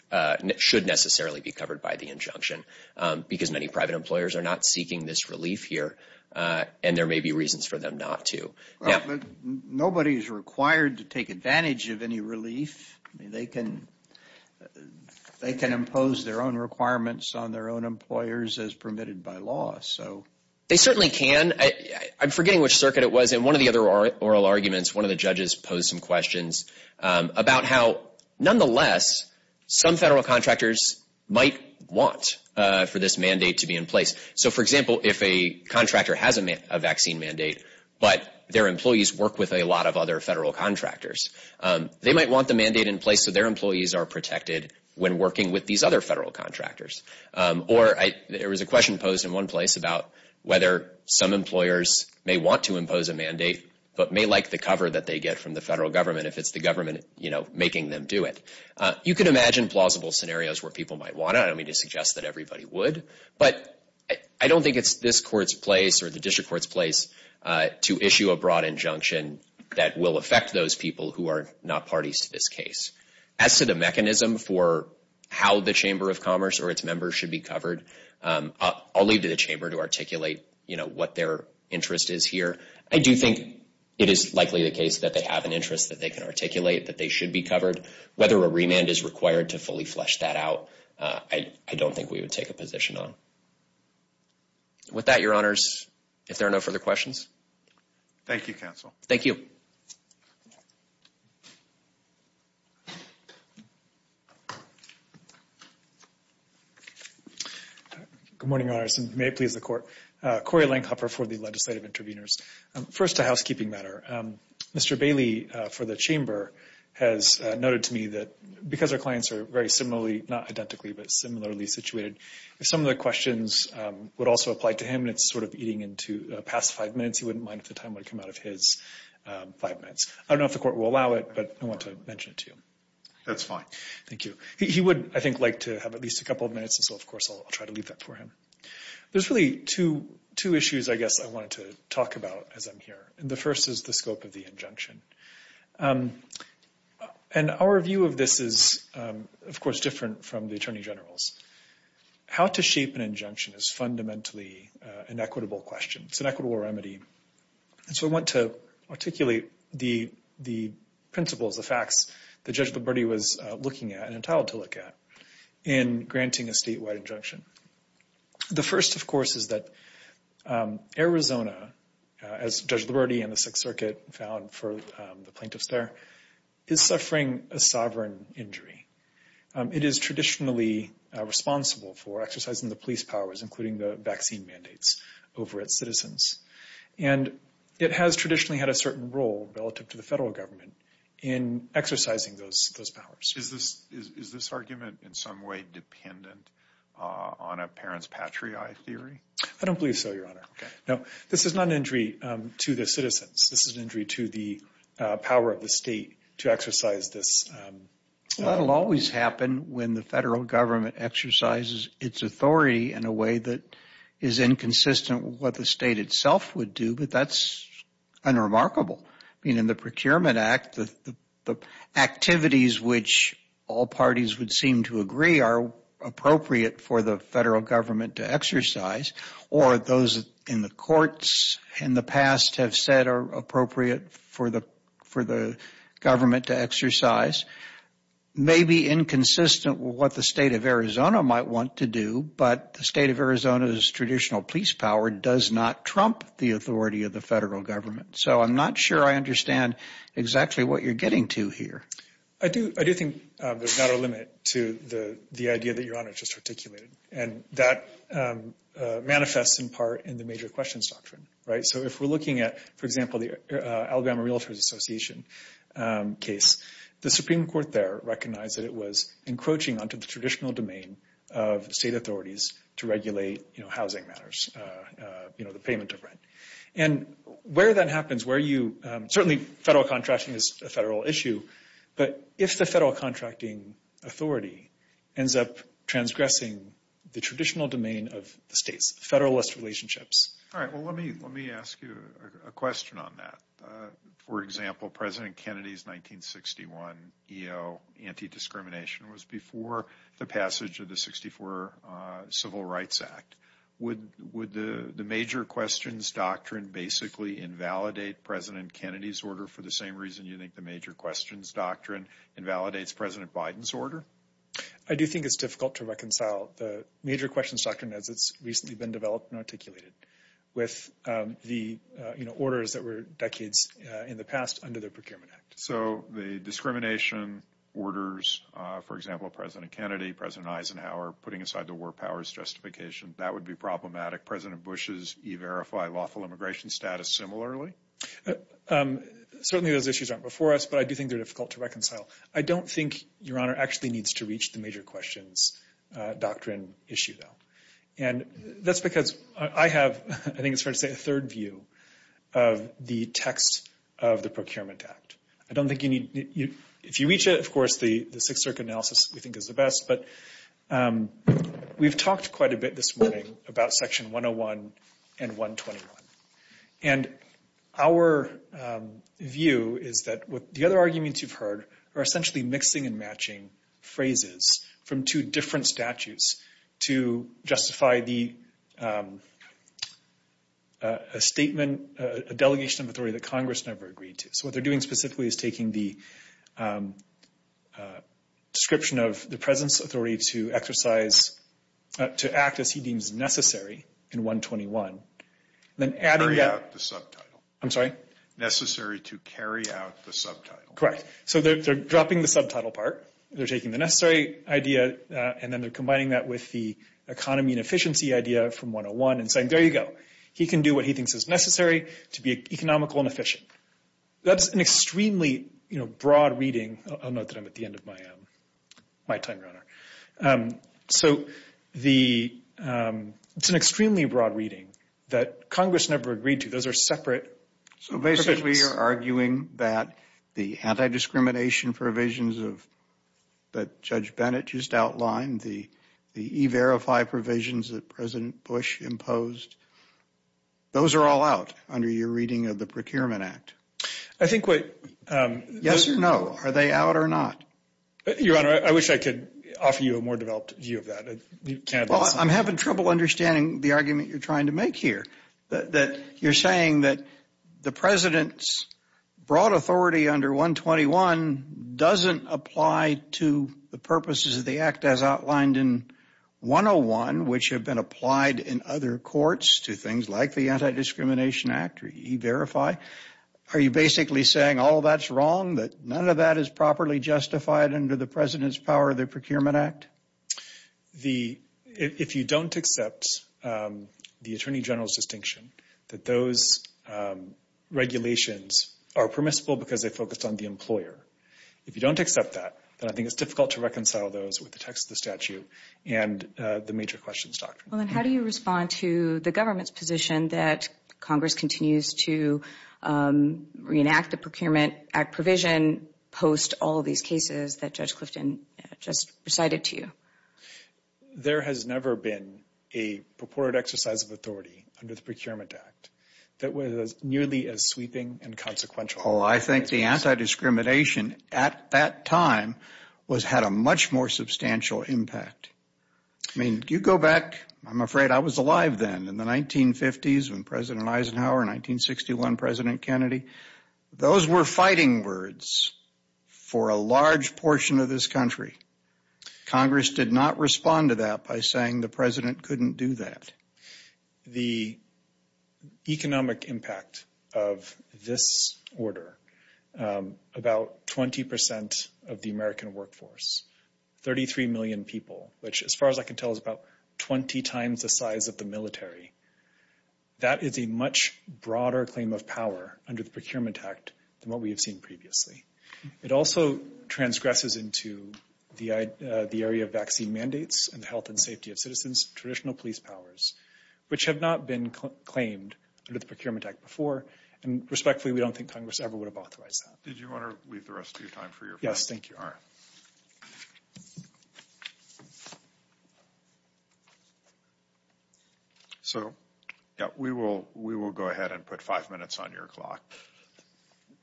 should necessarily be covered by the injunction because many private employers are not seeking this relief here, and there may be reasons for them not to. Nobody is required to take advantage of any relief. They can impose their own requirements on their own employers as permitted by law. They certainly can. I'm forgetting which circuit it was. In one of the other oral arguments, one of the judges posed some questions about how, nonetheless, some federal contractors might want for this mandate to be in place. So, for example, if a contractor has a vaccine mandate but their employees work with a lot of other federal contractors, they might want the mandate in place so their employees are protected when working with these other federal contractors. Or there was a question posed in one place about whether some employers may want to impose a mandate but may like the cover that they get from the federal government if it's the government, you know, making them do it. You can imagine plausible scenarios where people might want it. I don't mean to suggest that everybody would, but I don't think it's this Court's place or the district court's place to issue a broad injunction that will affect those people who are not parties to this case. As to the mechanism for how the Chamber of Commerce or its members should be covered, I'll leave it to the Chamber to articulate, you know, what their interest is here. I do think it is likely the case that they have an interest that they can articulate that they should be covered. Whether a remand is required to fully flesh that out, I don't think we would take a position on. With that, Your Honors, if there are no further questions. Thank you, Counsel. Thank you. Good morning, Your Honors, and may it please the Court. Corey Langhopper for the Legislative Interveners. First, a housekeeping matter. Mr. Bailey for the Chamber has noted to me that because our clients are very similarly, not identically, but similarly situated, if some of the questions would also apply to him and it's sort of eating into the past five minutes, he wouldn't mind if the time would come out of his five minutes. I don't know if the Court will allow it, but I want to mention it to you. That's fine. Thank you. He would, I think, like to have at least a couple of minutes, and so, of course, I'll try to leave that for him. There's really two issues, I guess, I wanted to talk about as I'm here, and the first is the scope of the injunction. And our view of this is, of course, different from the Attorney General's. How to shape an injunction is fundamentally an equitable question. It's an equitable remedy. And so I want to articulate the principles, the facts that Judge Liberti was looking at and entitled to look at in granting a statewide injunction. The first, of course, is that Arizona, as Judge Liberti and the Sixth Circuit found for the plaintiffs there, is suffering a sovereign injury. It is traditionally responsible for exercising the police powers, including the vaccine mandates, over its citizens. And it has traditionally had a certain role relative to the federal government in exercising those powers. Is this argument in some way dependent on a parent's patriae theory? I don't believe so, Your Honor. Okay. No, this is not an injury to the citizens. This is an injury to the power of the state to exercise this. That will always happen when the federal government exercises its authority in a way that is inconsistent with what the state itself would do. But that's unremarkable. I mean, in the Procurement Act, the activities which all parties would seem to agree are appropriate for the federal government to exercise, or those in the courts in the past have said are appropriate for the government to exercise, may be inconsistent with what the state of Arizona might want to do, but the state of Arizona's traditional police power does not trump the authority of the federal government. So I'm not sure I understand exactly what you're getting to here. I do think there's not a limit to the idea that Your Honor just articulated. And that manifests in part in the major questions doctrine, right? So if we're looking at, for example, the Alabama Realtors Association case, the Supreme Court there recognized that it was encroaching onto the traditional domain of state authorities to regulate housing matters, you know, the payment of rent. And where that happens, where you – certainly federal contracting is a federal issue, but if the federal contracting authority ends up transgressing the traditional domain of states, federalist relationships. All right, well, let me ask you a question on that. For example, President Kennedy's 1961 EO, anti-discrimination, was before the passage of the 64 Civil Rights Act. Would the major questions doctrine basically invalidate President Kennedy's order for the same reason you think the major questions doctrine invalidates President Biden's order? I do think it's difficult to reconcile the major questions doctrine, as it's recently been developed and articulated, with the orders that were decades in the past under the Procurement Act. So the discrimination orders, for example, of President Kennedy, President Eisenhower, putting aside the war powers justification, that would be problematic. President Bush's e-verify lawful immigration status similarly? Certainly those issues aren't before us, but I do think they're difficult to reconcile. I don't think Your Honor actually needs to reach the major questions doctrine issue, though. And that's because I have, I think it's fair to say, a third view of the text of the Procurement Act. I don't think you need – if you reach it, of course, the Sixth Circuit analysis we think is the best, but we've talked quite a bit this morning about Section 101 and 121. And our view is that the other arguments you've heard are essentially mixing and matching phrases from two different statutes to justify a statement, a delegation of authority that Congress never agreed to. So what they're doing specifically is taking the description of the President's authority to exercise, to act as he deems necessary in 121, then adding – Carry out the subtitle. I'm sorry? Necessary to carry out the subtitle. Correct. So they're dropping the subtitle part, they're taking the necessary idea, and then they're combining that with the economy and efficiency idea from 101 and saying, there you go. He can do what he thinks is necessary to be economical and efficient. That's an extremely broad reading. I'll note that I'm at the end of my time, Your Honor. So it's an extremely broad reading that Congress never agreed to. Those are separate provisions. So basically you're arguing that the anti-discrimination provisions that Judge Bennett just outlined, the E-Verify provisions that President Bush imposed, those are all out under your reading of the Procurement Act? I think what – Yes or no? Are they out or not? Your Honor, I wish I could offer you a more developed view of that. Well, I'm having trouble understanding the argument you're trying to make here, that you're saying that the President's broad authority under 121 doesn't apply to the purposes of the act as outlined in 101, which have been applied in other courts to things like the Anti-Discrimination Act or E-Verify. Are you basically saying all that's wrong, that none of that is properly justified under the President's power of the Procurement Act? If you don't accept the Attorney General's distinction that those regulations are permissible because they focus on the employer, if you don't accept that, then I think it's difficult to reconcile those with the text of the statute and the major questions doctrine. How do you respond to the government's position that Congress continues to reenact the Procurement Act provision post all of these cases that Judge Clifton just recited to you? There has never been a purported exercise of authority under the Procurement Act that was nearly as sweeping and consequential. Oh, I think the anti-discrimination at that time had a much more substantial impact. I mean, if you go back, I'm afraid I was alive then in the 1950s when President Eisenhower, 1961 President Kennedy, those were fighting words for a large portion of this country. Congress did not respond to that by saying the President couldn't do that. The economic impact of this order, about 20 percent of the American workforce, 33 million people, which as far as I can tell is about 20 times the size of the military. That is a much broader claim of power under the Procurement Act than what we have seen previously. It also transgresses into the area of vaccine mandates and the health and safety of citizens, traditional police powers, which have not been claimed under the Procurement Act before. And respectfully, we don't think Congress ever would have authorized that. Did you want to leave the rest of your time for your friend? Yes, thank you. All right. So we will go ahead and put five minutes on your clock.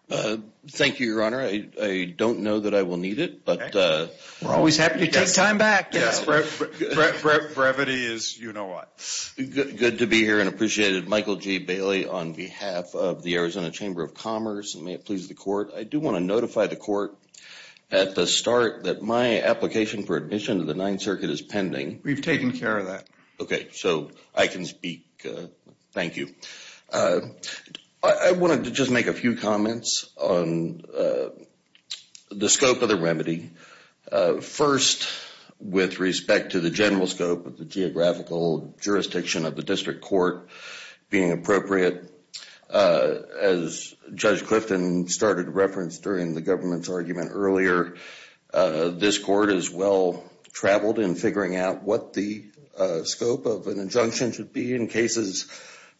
Thank you, Your Honor. I don't know that I will need it. We're always happy to take time back. Brevity is you know what. Good to be here and appreciate it. Michael G. Bailey on behalf of the Arizona Chamber of Commerce. May it please the Court. I do want to notify the Court at the start that my application for admission to the Ninth Circuit is pending. We've taken care of that. Okay, so I can speak. Thank you. I wanted to just make a few comments on the scope of the remedy. First, with respect to the general scope of the geographical jurisdiction of the district court being appropriate, as Judge Clifton started to reference during the government's argument earlier, this Court is well-traveled in figuring out what the scope of an injunction should be in cases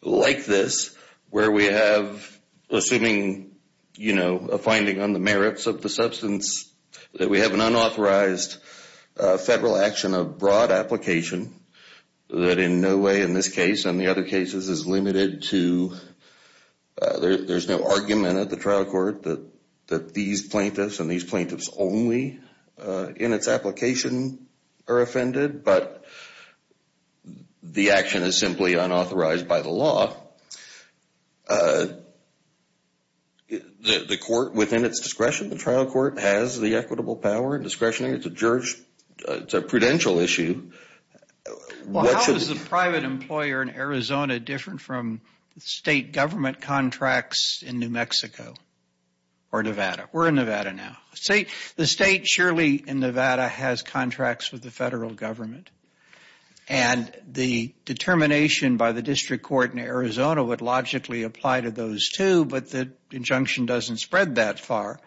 like this, where we have, assuming, you know, a finding on the merits of the substance, that we have an unauthorized federal action of broad application that in no way in this case and the other cases is limited to there's no argument at the trial court that these plaintiffs and these plaintiffs only in its application are offended, but the action is simply unauthorized by the law. The court within its discretion, the trial court, has the equitable power and discretionary. It's a prudential issue. Well, how is the private employer in Arizona different from state government contracts in New Mexico or Nevada? We're in Nevada now. The state surely in Nevada has contracts with the federal government, and the determination by the district court in Arizona would logically apply to those two, but the injunction doesn't spread that far.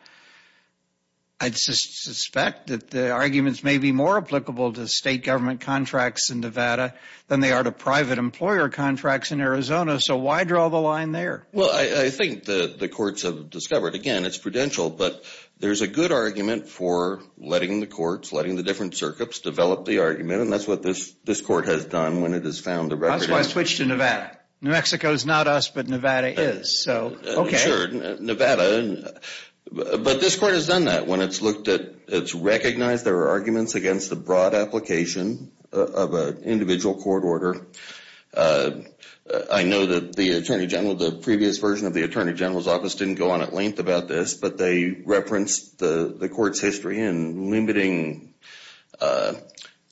I'd suspect that the arguments may be more applicable to state government contracts in Nevada than they are to private employer contracts in Arizona, so why draw the line there? Well, I think the courts have discovered, again, it's prudential, but there's a good argument for letting the courts, letting the different circuits develop the argument, and that's what this court has done when it has found the record. That's why it switched to Nevada. New Mexico is not us, but Nevada is, so okay. Sure, Nevada, but this court has done that when it's looked at, it's recognized there are arguments against the broad application of an individual court order. I know that the Attorney General, the previous version of the Attorney General's office didn't go on at length about this, but they referenced the court's history in limiting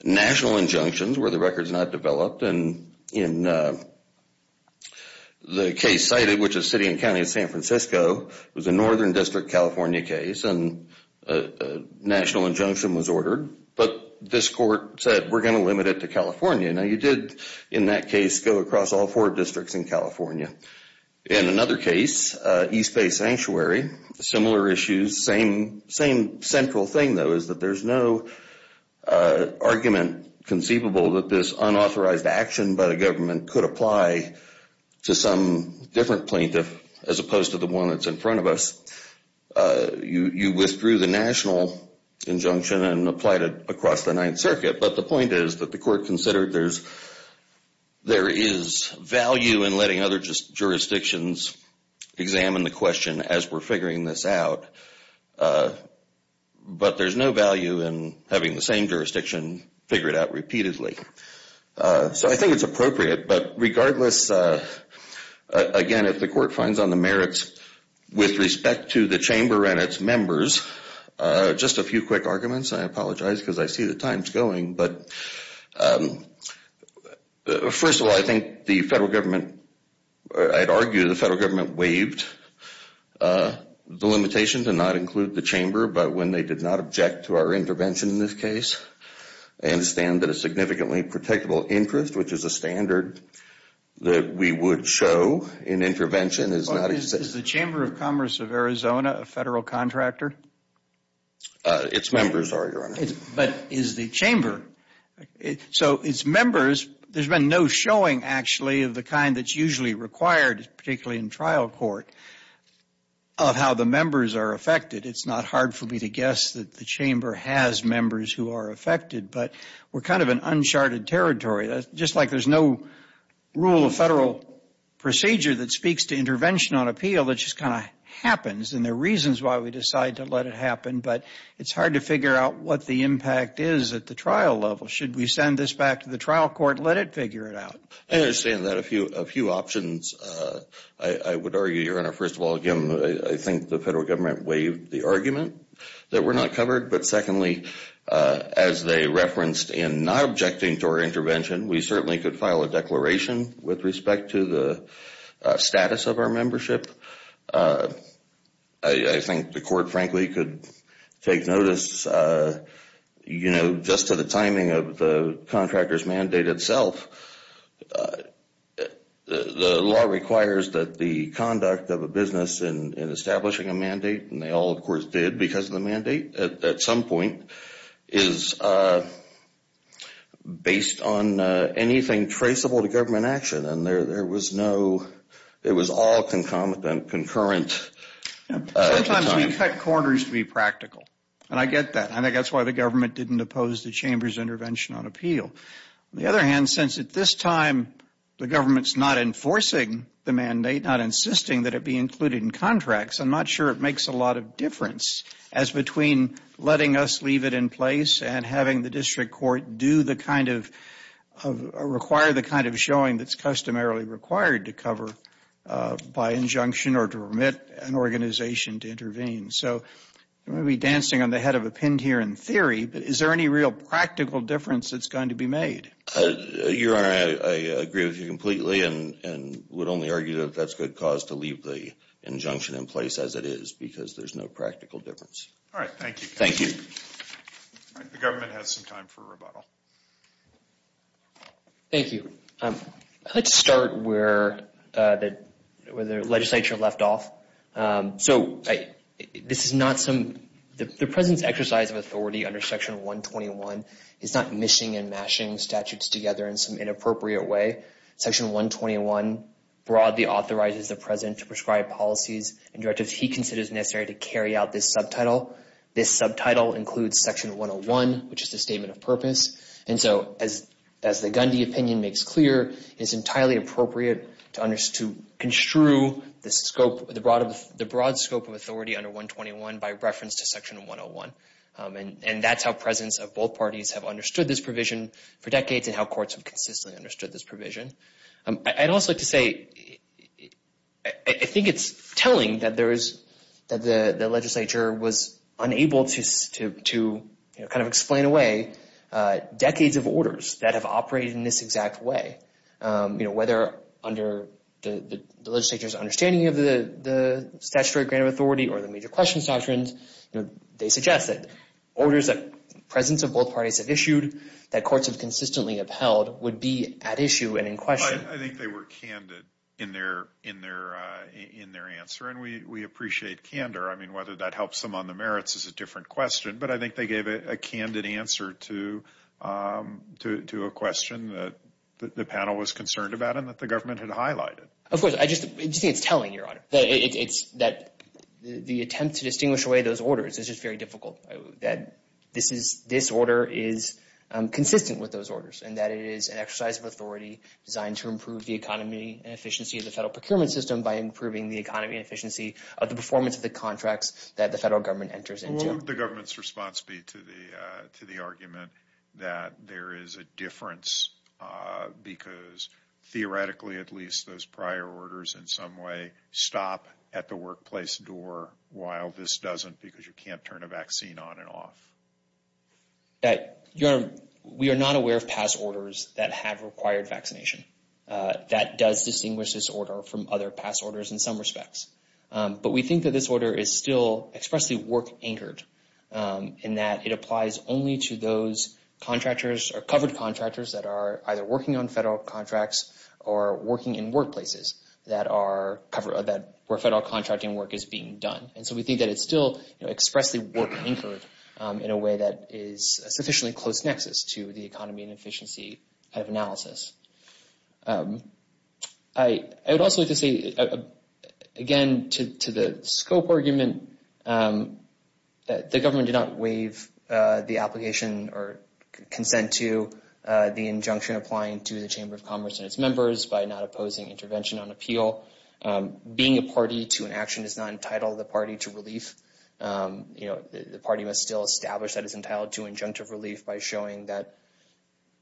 national injunctions where the record's not developed, and in the case cited, which is City and County of San Francisco, it was a Northern District, California case, and a national injunction was ordered, but this court said we're going to limit it to California. Now, you did, in that case, go across all four districts in California. In another case, East Bay Sanctuary, similar issues, same central thing, though, is that there's no argument conceivable that this unauthorized action by the government could apply to some different plaintiff as opposed to the one that's in front of us. You withdrew the national injunction and applied it across the Ninth Circuit, but the point is that the court considered there is value in letting other jurisdictions examine the question as we're figuring this out, but there's no value in having the same jurisdiction figure it out repeatedly. So I think it's appropriate, but regardless, again, if the court finds on the merits with respect to the chamber and its members, just a few quick arguments. I apologize because I see the time's going, but first of all, I think the federal government, I'd argue the federal government waived the limitation to not include the chamber, but when they did not object to our intervention in this case, I understand that a significantly predictable interest, which is a standard that we would show in intervention, Well, is the Chamber of Commerce of Arizona a federal contractor? Its members are, Your Honor. But is the chamber? So its members, there's been no showing, actually, of the kind that's usually required, particularly in trial court, of how the members are affected. It's not hard for me to guess that the chamber has members who are affected, but we're kind of in uncharted territory. Just like there's no rule of federal procedure that speaks to intervention on appeal, it just kind of happens, and there are reasons why we decide to let it happen, but it's hard to figure out what the impact is at the trial level. Should we send this back to the trial court and let it figure it out? I understand that. A few options, I would argue, Your Honor. First of all, again, I think the federal government waived the argument that we're not covered, but secondly, as they referenced in not objecting to our intervention, we certainly could file a declaration with respect to the status of our membership. I think the court, frankly, could take notice, you know, just to the timing of the contractor's mandate itself. The law requires that the conduct of a business in establishing a mandate, and they all, of course, did because of the mandate at some point, is based on anything traceable to government action, and there was no, it was all concurrent. Sometimes we cut corners to be practical, and I get that. I think that's why the government didn't oppose the chamber's intervention on appeal. On the other hand, since at this time the government's not enforcing the mandate, not insisting that it be included in contracts, I'm not sure it makes a lot of difference as between letting us leave it in place and having the district court do the kind of, require the kind of showing that's customarily required to cover by injunction or to permit an organization to intervene. So I'm going to be dancing on the head of a pin here in theory, but is there any real practical difference that's going to be made? Your Honor, I agree with you completely and would only argue that that's good cause to leave the injunction in place as it is because there's no practical difference. All right, thank you. Thank you. All right, the government has some time for rebuttal. Thank you. I'd like to start where the legislature left off. So this is not some, the President's exercise of authority under Section 121 is not mishing and mashing statutes together in some inappropriate way. Section 121 broadly authorizes the President to prescribe policies and directives he considers necessary to carry out this subtitle. This subtitle includes Section 101, which is the statement of purpose. And so as the Gundy opinion makes clear, it's entirely appropriate to construe the scope, the broad scope of authority under 121 by reference to Section 101. And that's how presidents of both parties have understood this provision for decades and how courts have consistently understood this provision. I'd also like to say I think it's telling that the legislature was unable to kind of explain away decades of orders that have operated in this exact way, whether under the legislature's understanding of the statutory grant of authority or the major questions doctrines. They suggest that orders that presidents of both parties have issued, that courts have consistently upheld, would be at issue and in question. I think they were candid in their answer, and we appreciate candor. I mean, whether that helps them on the merits is a different question, but I think they gave a candid answer to a question that the panel was concerned about and that the government had highlighted. Of course, I just think it's telling, Your Honor, that the attempt to distinguish away those orders is just very difficult, that this order is consistent with those orders and that it is an exercise of authority designed to improve the economy and efficiency of the federal procurement system by improving the economy and efficiency of the performance of the contracts that the federal government enters into. What would the government's response be to the argument that there is a difference because theoretically at least those prior orders in some way stop at the workplace door while this doesn't because you can't turn a vaccine on and off? Your Honor, we are not aware of past orders that have required vaccination. That does distinguish this order from other past orders in some respects, but we think that this order is still expressly work-anchored in that it applies only to those contractors or covered contractors that are either working on federal contracts or working in workplaces where federal contracting work is being done. And so we think that it's still expressly work-anchored in a way that is a sufficiently close nexus to the economy and efficiency kind of analysis. I would also like to say again to the scope argument that the government did not waive the application or consent to the injunction applying to the Chamber of Commerce and its members by not opposing intervention on appeal. Being a party to an action is not entitled the party to relief. The party must still establish that it's entitled to injunctive relief by showing that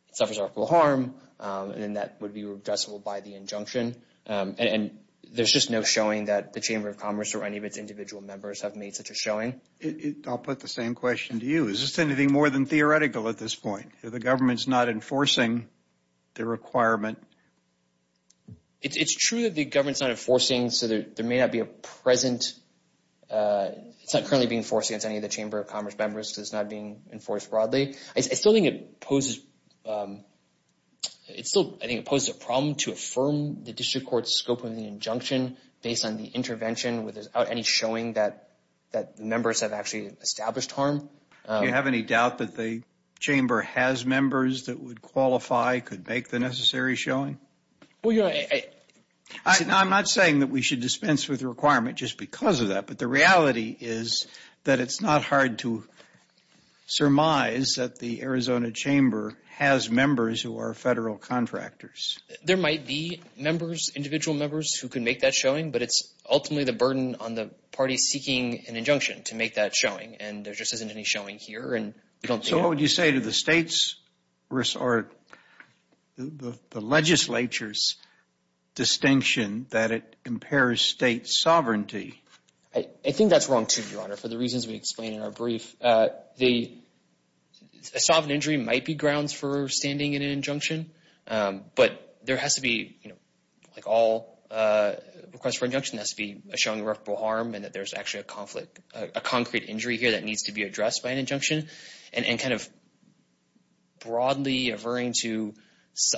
it suffers article of harm and that would be redressable by the injunction. And there's just no showing that the Chamber of Commerce or any of its individual members have made such a showing. I'll put the same question to you. Is this anything more than theoretical at this point? The government's not enforcing the requirement. It's true that the government's not enforcing, so there may not be a present – it's not currently being enforced against any of the Chamber of Commerce members because it's not being enforced broadly. I still think it poses a problem to affirm the district court's scope of the injunction based on the intervention without any showing that the members have actually established harm. Do you have any doubt that the Chamber has members that would qualify, could make the necessary showing? I'm not saying that we should dispense with the requirement just because of that, but the reality is that it's not hard to surmise that the Arizona Chamber has members who are federal contractors. There might be members, individual members, who could make that showing, but it's ultimately the burden on the parties seeking an injunction to make that showing, and there just isn't any showing here. So what would you say to the legislature's distinction that it impairs state sovereignty I think that's wrong too, Your Honor, for the reasons we explained in our brief. The sovereign injury might be grounds for standing in an injunction, but there has to be – like all requests for injunction has to be showing irreparable harm and that there's actually a conflict, a concrete injury here that needs to be addressed by an injunction, and kind of broadly averring to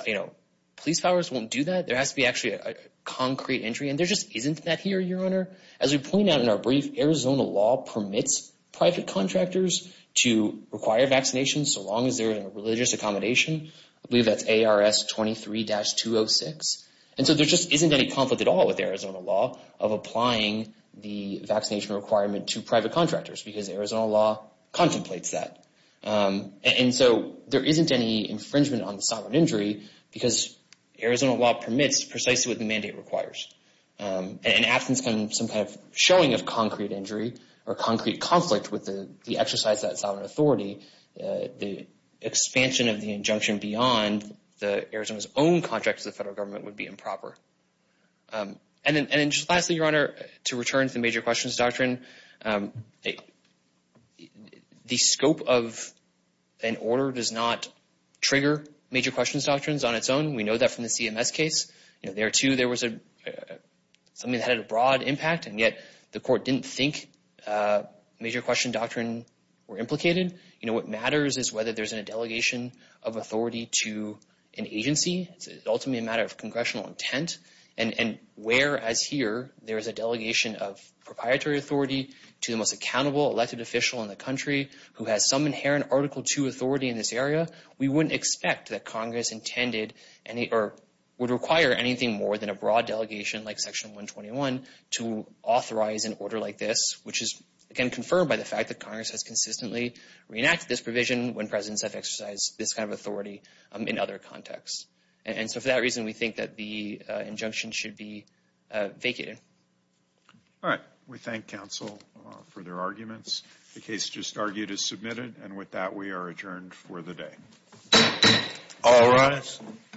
– police powers won't do that. There has to be actually a concrete injury, and there just isn't that here, Your Honor, as we point out in our brief, Arizona law permits private contractors to require vaccinations so long as they're in a religious accommodation. I believe that's ARS 23-206, and so there just isn't any conflict at all with Arizona law of applying the vaccination requirement to private contractors because Arizona law contemplates that. And so there isn't any infringement on the sovereign injury because Arizona law permits precisely what the mandate requires. And in absence of some kind of showing of concrete injury or concrete conflict with the exercise of that sovereign authority, the expansion of the injunction beyond Arizona's own contract to the federal government would be improper. And then just lastly, Your Honor, to return to the major questions doctrine, the scope of an order does not trigger major questions doctrines on its own. We know that from the CMS case. There, too, there was something that had a broad impact, and yet the court didn't think major question doctrine were implicated. What matters is whether there's a delegation of authority to an agency. It's ultimately a matter of congressional intent. And whereas here there is a delegation of proprietary authority to the most accountable elected official in the country who has some inherent Article II authority in this area, we wouldn't expect that Congress intended or would require anything more than a broad delegation like Section 121 to authorize an order like this, which is, again, confirmed by the fact that Congress has consistently reenacted this provision when presidents have exercised this kind of authority in other contexts. And so for that reason, we think that the injunction should be vacated. All right. We thank counsel for their arguments. The case just argued is submitted. And with that, we are adjourned for the day. All rise.